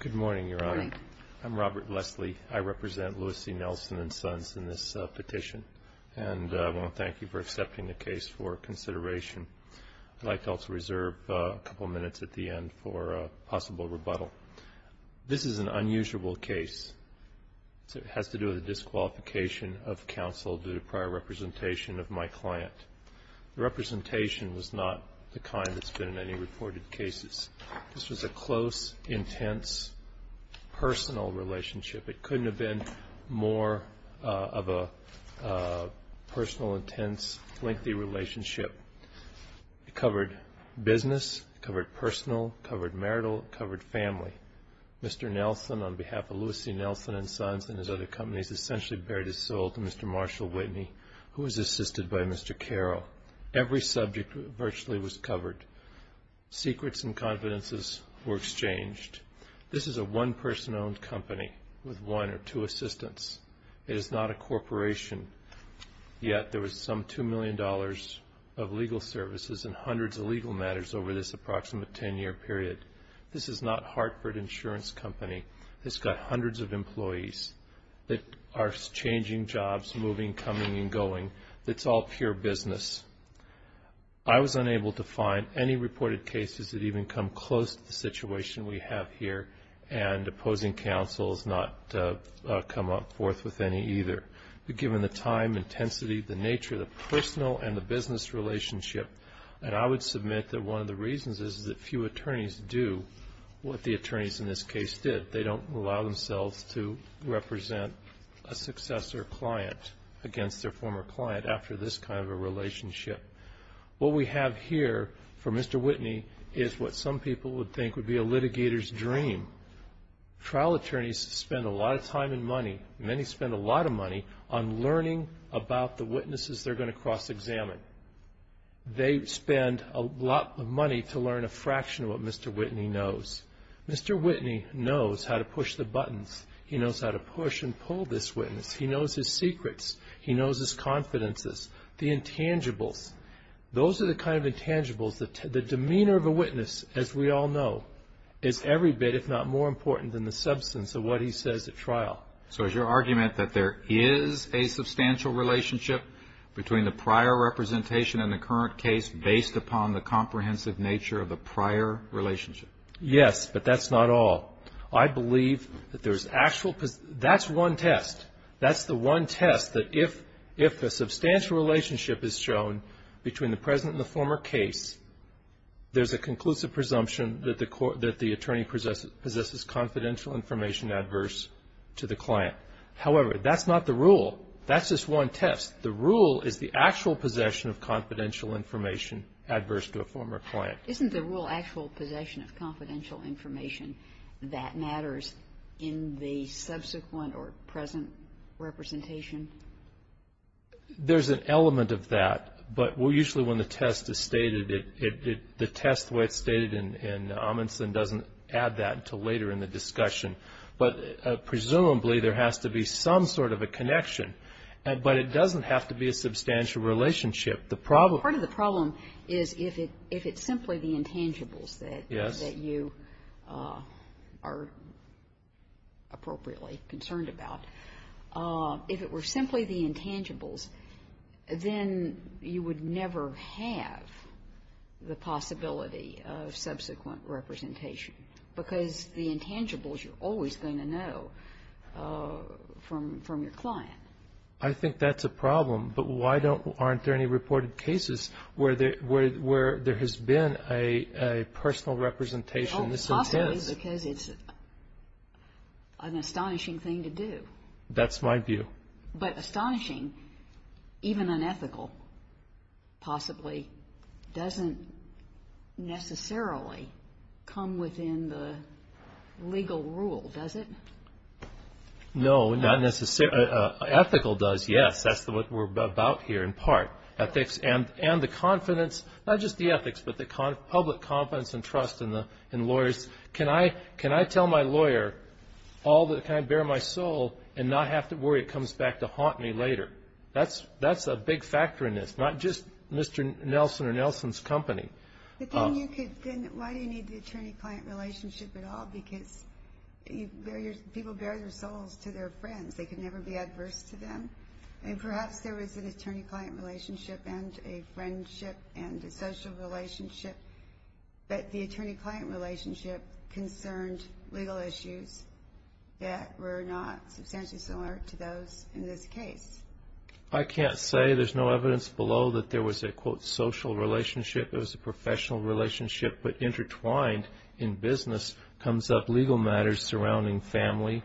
Good morning, Your Honor. Good morning. I'm Robert Leslie. I represent Lewis C. Nelson and Sons in this petition, and I want to thank you for accepting the case for consideration. I'd like to also reserve a couple of minutes at the end for a possible rebuttal. This is an unusual case. It has to do with a disqualification of counsel due to prior representation of my client. The representation was not the kind that's been in any reported cases. This was a close, intense, personal relationship. It couldn't have been more of a personal, intense, lengthy relationship. It covered business. It covered personal. It covered marital. It covered family. Mr. Nelson, on behalf of Lewis C. Nelson and Sons and his other companies, essentially bared his soul to Mr. Marshall Whitney, who was assisted by Mr. Carroll. Every subject virtually was covered. Secrets and confidences were exchanged. This is a one-person-owned company with one or two assistants. It is not a corporation, yet there was some $2 million of legal services and hundreds of legal matters over this approximate 10-year period. This is not Hartford Insurance Company. It's got hundreds of employees that are changing jobs, moving, coming and going. It's all pure business. I was unable to find any reported cases that even come close to the situation we have here, and opposing counsel has not come forth with any either. But given the time, intensity, the nature, the personal and the business relationship, and I would submit that one of the reasons is that few attorneys do what the attorneys in this case did. They don't allow themselves to represent a successor client against their former client after this kind of a relationship. What we have here for Mr. Whitney is what some people would think would be a litigator's dream. Trial attorneys spend a lot of time and money, many spend a lot of money, on learning about the witnesses they're going to cross-examine. They spend a lot of money to learn a fraction of what Mr. Whitney knows. Mr. Whitney knows how to push the buttons. He knows how to push and pull this witness. He knows his secrets. He knows his confidences, the intangibles. Those are the kind of intangibles that the demeanor of a witness, as we all know, is every bit if not more important than the substance of what he says at trial. So is your argument that there is a substantial relationship between the prior representation and the current case based upon the comprehensive nature of the prior relationship? Yes, but that's not all. I believe that there's actual – that's one test. That's the one test that if a substantial relationship is shown between the present and the former case, there's a conclusive presumption that the attorney possesses confidential information adverse to the client. However, that's not the rule. That's just one test. The rule is the actual possession of confidential information adverse to a former client. Isn't the rule actual possession of confidential information that matters in the subsequent or present representation? There's an element of that. But usually when the test is stated, the test, the way it's stated in Amundsen, doesn't add that until later in the discussion. But presumably there has to be some sort of a connection. But it doesn't have to be a substantial relationship. Part of the problem is if it's simply the intangibles that you are appropriately concerned about. If it were simply the intangibles, then you would never have the possibility of subsequent representation because the intangibles you're always going to know from your client. I think that's a problem. But why aren't there any reported cases where there has been a personal representation? Possibly because it's an astonishing thing to do. That's my view. But astonishing, even unethical possibly, doesn't necessarily come within the legal rule, does it? No, not necessarily. Ethical does, yes. That's what we're about here, in part. Ethics and the confidence, not just the ethics, but the public confidence and trust in lawyers. Can I tell my lawyer, can I bear my soul and not have to worry it comes back to haunt me later? That's a big factor in this. Not just Mr. Nelson or Nelson's company. Then why do you need the attorney-client relationship at all? Because people bear their souls to their friends. They can never be adverse to them. And perhaps there was an attorney-client relationship and a friendship and a social relationship, but the attorney-client relationship concerned legal issues that were not substantially similar to those in this case. I can't say. There's no evidence below that there was a, quote, social relationship. It was a professional relationship, but intertwined in business comes up legal matters surrounding family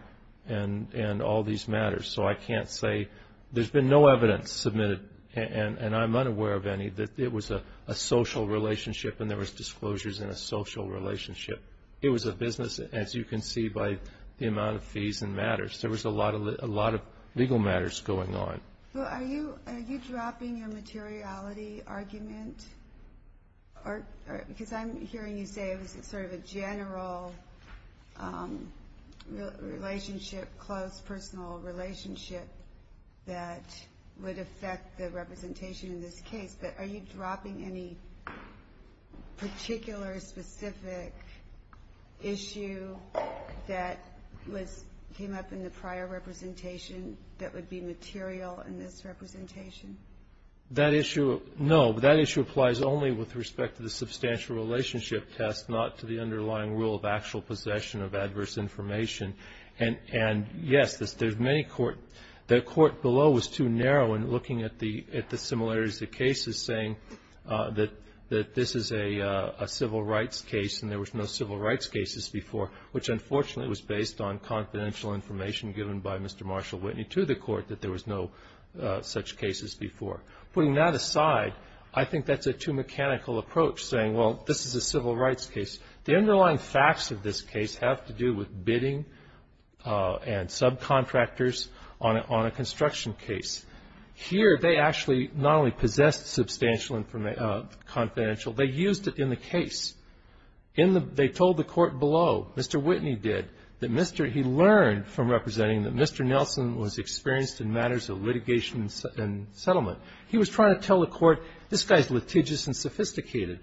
and all these matters. So I can't say. There's been no evidence submitted, and I'm unaware of any, that it was a social relationship and there was disclosures in a social relationship. It was a business, as you can see by the amount of fees and matters. There was a lot of legal matters going on. Well, are you dropping your materiality argument? Because I'm hearing you say it was sort of a general relationship, close personal relationship that would affect the representation in this case. But are you dropping any particular specific issue that came up in the prior representation that would be material in this representation? That issue, no. That issue applies only with respect to the substantial relationship test, not to the underlying rule of actual possession of adverse information. And, yes, there's many court the court below was too narrow in looking at the similarities of cases, saying that this is a civil rights case and there was no civil rights cases before, which unfortunately was based on confidential information given by Mr. Marshall Whitney to the court that there was no such cases before. Putting that aside, I think that's a too mechanical approach, saying, well, this is a civil rights case. The underlying facts of this case have to do with bidding and subcontractors on a construction case. Here they actually not only possessed substantial confidential, they used it in the case. In the they told the court below, Mr. Whitney did, that Mr. He learned from representing that Mr. Nelson was experienced in matters of litigation and settlement. He was trying to tell the court, this guy's litigious and sophisticated.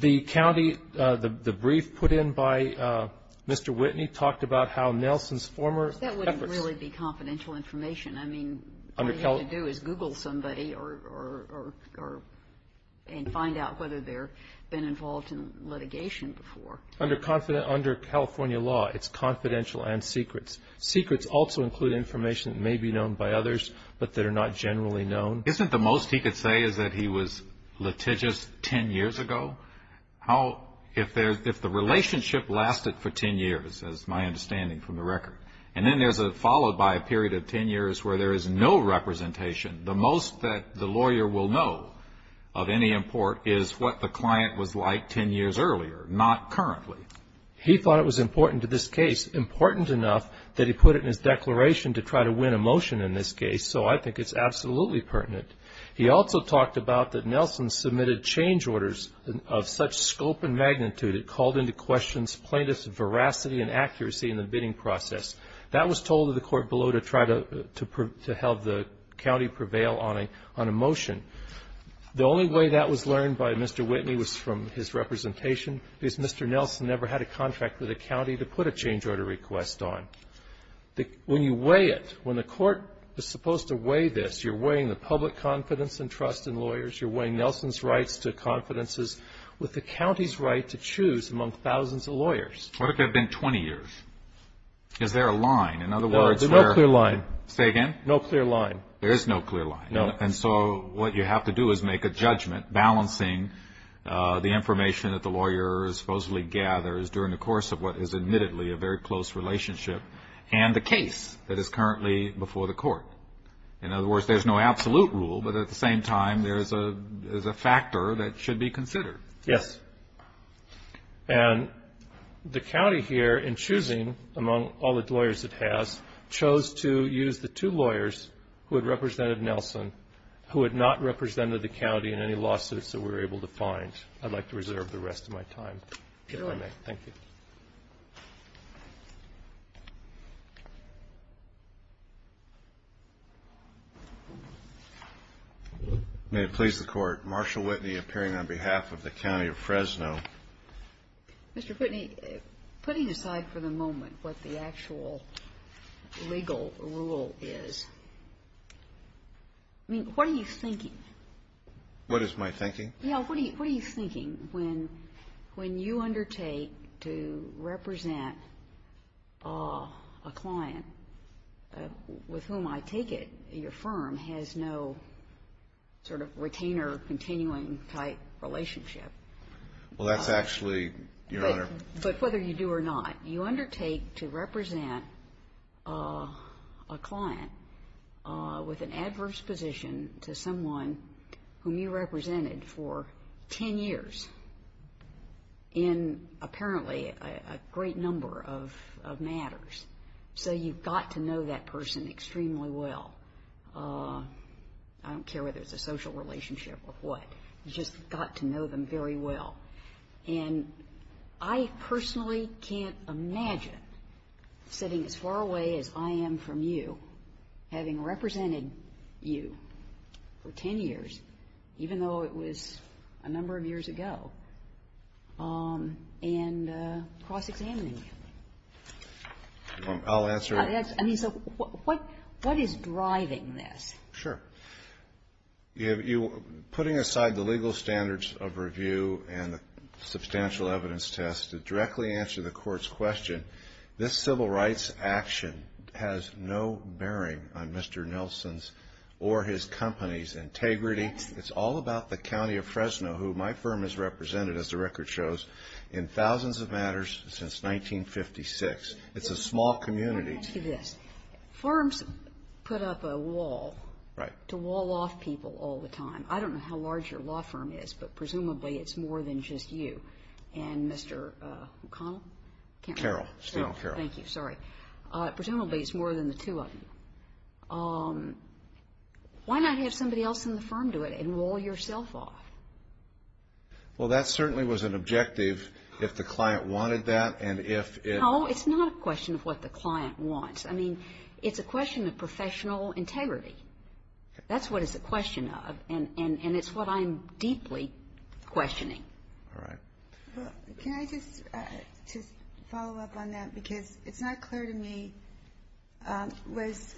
The county, the brief put in by Mr. Whitney talked about how Nelson's former efforts. That wouldn't really be confidential information. I mean, all you have to do is Google somebody or, or, or, and find out whether they're been involved in litigation before. Under California law, it's confidential and secrets. Secrets also include information that may be known by others, but that are not generally known. Isn't the most he could say is that he was litigious ten years ago? How, if the relationship lasted for ten years, as my understanding from the record, and then there's a followed by a period of ten years where there is no representation, the most that the lawyer will know of any import is what the client was like ten years earlier, not currently. He thought it was important to this case, important enough that he put it in his declaration to try to win a motion in this case. So I think it's absolutely pertinent. He also talked about that Nelson submitted change orders of such scope and magnitude, it called into question plaintiff's veracity and accuracy in the bidding process. That was told to the court below to try to help the county prevail on a motion. The only way that was learned by Mr. Whitney was from his representation, because Mr. Nelson never had a contract with a county to put a change order request on. When you weigh it, when the court is supposed to weigh this, you're weighing the public confidence and trust in lawyers, you're weighing Nelson's rights to confidences with the county's right to choose among thousands of lawyers. What if there had been 20 years? Is there a line? No, there's no clear line. Say again? No clear line. There is no clear line. No. And so what you have to do is make a judgment balancing the information that the lawyer supposedly gathers during the course of what is admittedly a very close relationship and the case that is currently before the court. In other words, there's no absolute rule, but at the same time there's a factor that should be considered. Yes. And the county here, in choosing among all the lawyers it has, chose to use the two lawyers who had represented Nelson, who had not represented the county in any lawsuits that we were able to find. I'd like to reserve the rest of my time. If you don't mind. Thank you. May it please the Court. Marshall Whitney appearing on behalf of the county of Fresno. Mr. Whitney, putting aside for the moment what the actual legal rule is, I mean, what are you thinking? What is my thinking? Yeah, what are you thinking when you undertake to represent a client with whom I take it your firm has no sort of retainer continuing type relationship? Well, that's actually, Your Honor. But whether you do or not, you undertake to represent a client with an adverse position to someone whom you represented for 10 years in apparently a great number of matters. So you've got to know that person extremely well. I don't care whether it's a social relationship or what. You've just got to know them very well. And I personally can't imagine sitting as far away as I am from you, having represented you for 10 years, even though it was a number of years ago, and cross-examining you. I'll answer. And he said, what is driving this? Sure. Putting aside the legal standards of review and the substantial evidence test to directly answer the Court's question, this civil rights action has no bearing on Mr. Nelson's or his company's integrity. It's all about the county of Fresno, who my firm has represented, as the record shows, in thousands of matters since 1956. It's a small community. Let me ask you this. Firms put up a wall to wall off people all the time. I don't know how large your law firm is, but presumably it's more than just you and Mr. O'Connell? Carroll. Carroll. Thank you. Sorry. Presumably it's more than the two of you. Why not have somebody else in the firm do it and wall yourself off? Well, that certainly was an objective if the client wanted that, and if it – No, it's not a question of what the client wants. I mean, it's a question of professional integrity. That's what it's a question of, and it's what I'm deeply questioning. All right. Can I just follow up on that? Because it's not clear to me, was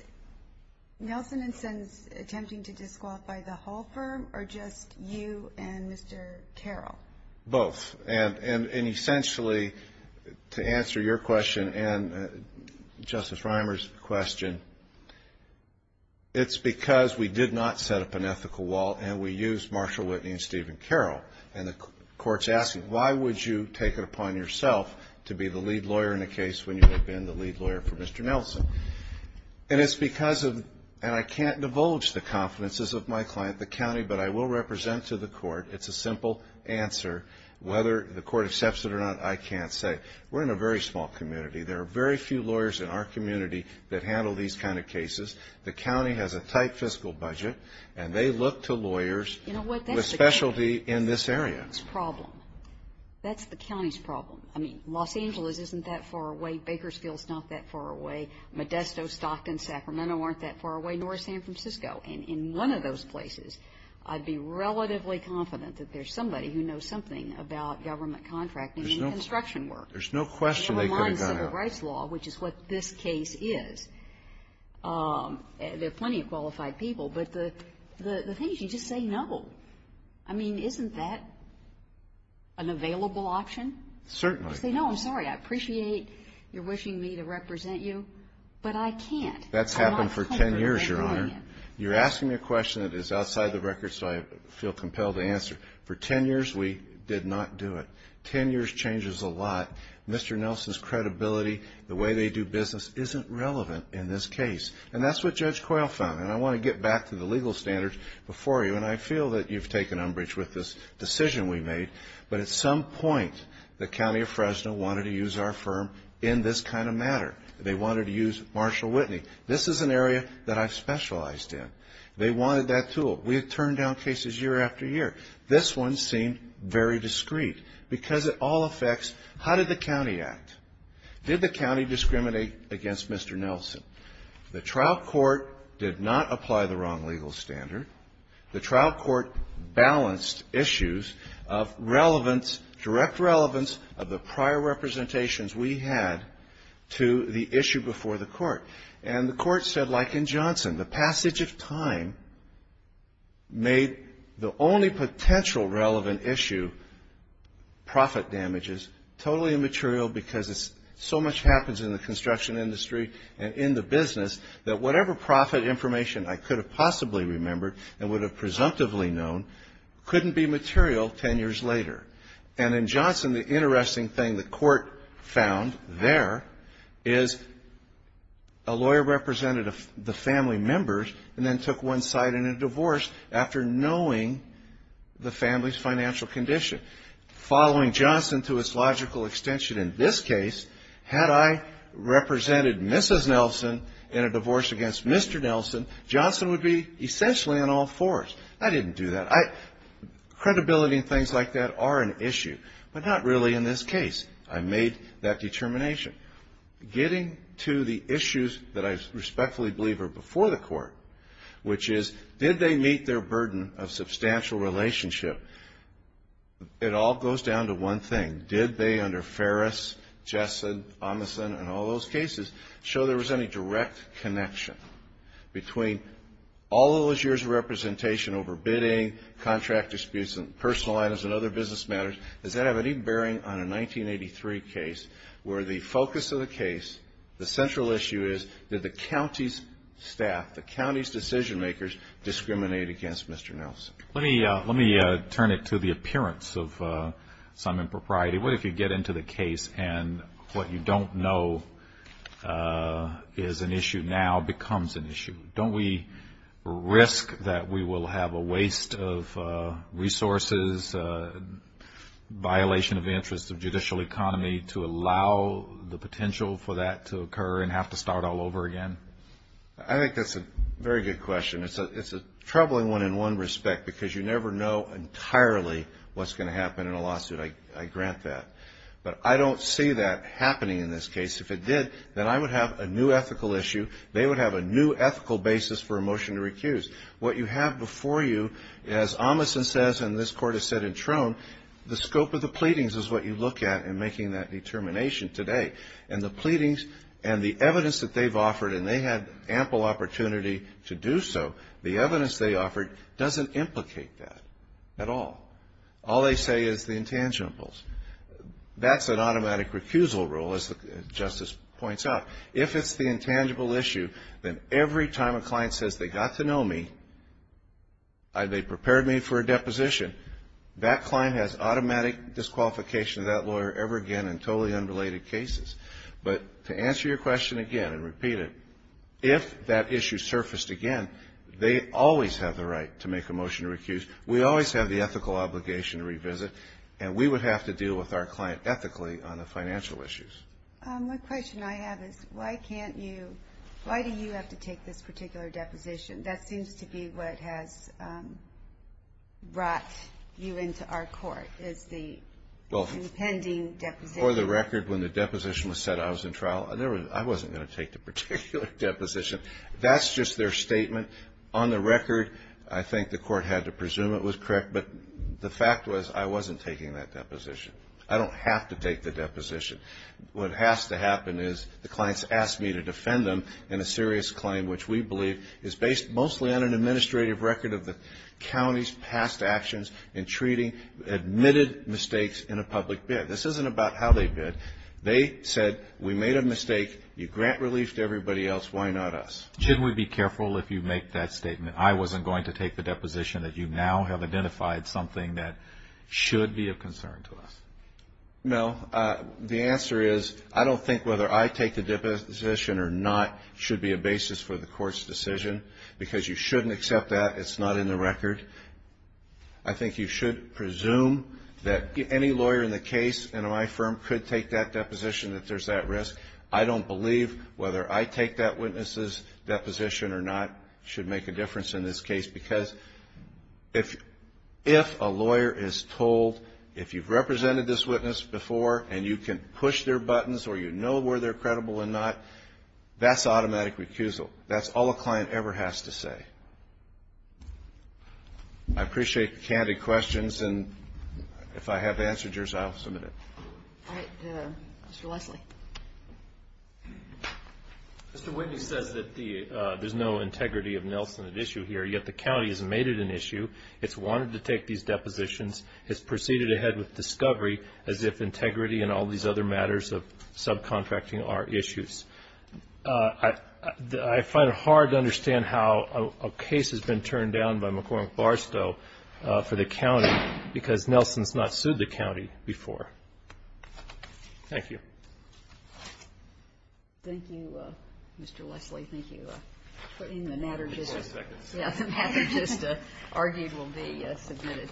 Nelson and Sons attempting to disqualify the whole firm or just you and Mr. Carroll? Both. And essentially, to answer your question and Justice Reimer's question, it's because we did not set up an ethical wall and we used Marshall Whitney and Stephen Carroll, and the court's asking, why would you take it upon yourself to be the lead lawyer in a case when you have been the lead lawyer for Mr. Nelson? And it's because of – and I can't divulge the confidences of my client, the county, but I will represent to the court. It's a simple answer. Whether the court accepts it or not, I can't say. We're in a very small community. There are very few lawyers in our community that handle these kind of cases. The county has a tight fiscal budget, and they look to lawyers with specialty in this area. You know what? That's the county's problem. That's the county's problem. I mean, Los Angeles isn't that far away. Bakersfield's not that far away. Modesto, Stockton, Sacramento aren't that far away, nor San Francisco. And in one of those places, I'd be relatively confident that there's somebody who knows something about government contracting and construction work. There's no question they could have gotten it. Which is what this case is. There are plenty of qualified people, but the thing is, you just say no. I mean, isn't that an available option? Certainly. You say, no, I'm sorry, I appreciate your wishing me to represent you, but I can't. That's happened for ten years, Your Honor. You're asking me a question that is outside the record, so I feel compelled to answer. For ten years, we did not do it. Ten years changes a lot. Mr. Nelson's credibility, the way they do business, isn't relevant in this case. And that's what Judge Coyle found. And I want to get back to the legal standards before you. And I feel that you've taken umbrage with this decision we made. But at some point, the county of Fresno wanted to use our firm in this kind of matter. They wanted to use Marshall Whitney. This is an area that I've specialized in. They wanted that tool. We had turned down cases year after year. This one seemed very discreet. Because it all affects, how did the county act? Did the county discriminate against Mr. Nelson? The trial court did not apply the wrong legal standard. The trial court balanced issues of relevance, direct relevance, of the prior representations we had to the issue before the court. And the court said, like in Johnson, the passage of time made the only potential relevant issue, profit damages, totally immaterial because so much happens in the construction industry and in the business that whatever profit information I could have possibly remembered and would have presumptively known couldn't be material ten years later. And in Johnson, the interesting thing the court found there is a lawyer represented the family members and then took one side in a divorce after knowing the family's financial condition. Following Johnson to its logical extension in this case, had I represented Mrs. Nelson in a divorce against Mr. Nelson, Johnson would be essentially on all fours. I didn't do that. Credibility and things like that are an issue, but not really in this case. I made that determination. Getting to the issues that I respectfully believe are before the court, which is, did they meet their burden of substantial relationship? It all goes down to one thing. Did they, under Ferris, Jessen, Amason, and all those cases, show there was any direct connection between all those years of representation over bidding, contract disputes, and personal items and other business matters? Does that have any bearing on a 1983 case where the focus of the case, the central issue is did the county's staff, the county's decision makers, discriminate against Mr. Nelson? Let me turn it to the appearance of some impropriety. What if you get into the case and what you don't know is an issue now becomes an issue? Don't we risk that we will have a waste of resources, violation of interests of judicial economy to allow the potential for that to occur and have to start all over again? I think that's a very good question. It's a troubling one in one respect because you never know entirely what's going to happen in a lawsuit. I grant that. But I don't see that happening in this case. If it did, then I would have a new ethical issue. They would have a new ethical basis for a motion to recuse. What you have before you, as Amason says and this Court has said in Trone, the scope of the pleadings is what you look at in making that determination today. And the pleadings and the evidence that they've offered, and they had ample opportunity to do so, the evidence they offered doesn't implicate that at all. All they say is the intangibles. That's an automatic recusal rule, as Justice points out. If it's the intangible issue, then every time a client says they got to know me, they prepared me for a deposition, that client has automatic disqualification of that lawyer ever again in totally unrelated cases. But to answer your question again and repeat it, if that issue surfaced again, they always have the right to make a motion to recuse. We always have the ethical obligation to revisit, and we would have to deal with our client ethically on the financial issues. One question I have is why do you have to take this particular deposition? That seems to be what has brought you into our Court, is the pending deposition. For the record, when the deposition was set, I was in trial. I wasn't going to take the particular deposition. That's just their statement. On the record, I think the Court had to presume it was correct, but the fact was I wasn't taking that deposition. I don't have to take the deposition. What has to happen is the client has asked me to defend them in a serious claim, which we believe is based mostly on an administrative record of the county's past actions in treating admitted mistakes in a public bid. This isn't about how they bid. They said we made a mistake. You grant relief to everybody else. Why not us? Shouldn't we be careful if you make that statement, I wasn't going to take the deposition, that you now have identified something that should be of concern to us? No. The answer is I don't think whether I take the deposition or not should be a basis for the Court's decision because you shouldn't accept that. It's not in the record. I think you should presume that any lawyer in the case in my firm could take that deposition if there's that risk. I don't believe whether I take that witness's deposition or not should make a difference in this case because if a lawyer is told if you've represented this witness before and you can push their buttons or you know where they're credible or not, that's automatic recusal. That's all a client ever has to say. I appreciate the candid questions, and if I have answered yours, I'll submit it. All right. Mr. Leslie. Mr. Whitney says that there's no integrity of Nelson at issue here, yet the county has made it an issue, it's wanted to take these depositions, has proceeded ahead with discovery as if integrity and all these other matters of subcontracting are issues. I find it hard to understand how a case has been turned down by McCormick Barstow for the county because Nelson's not sued the county before. Thank you. Thank you, Mr. Leslie. Thank you. The matter just argued will be submitted.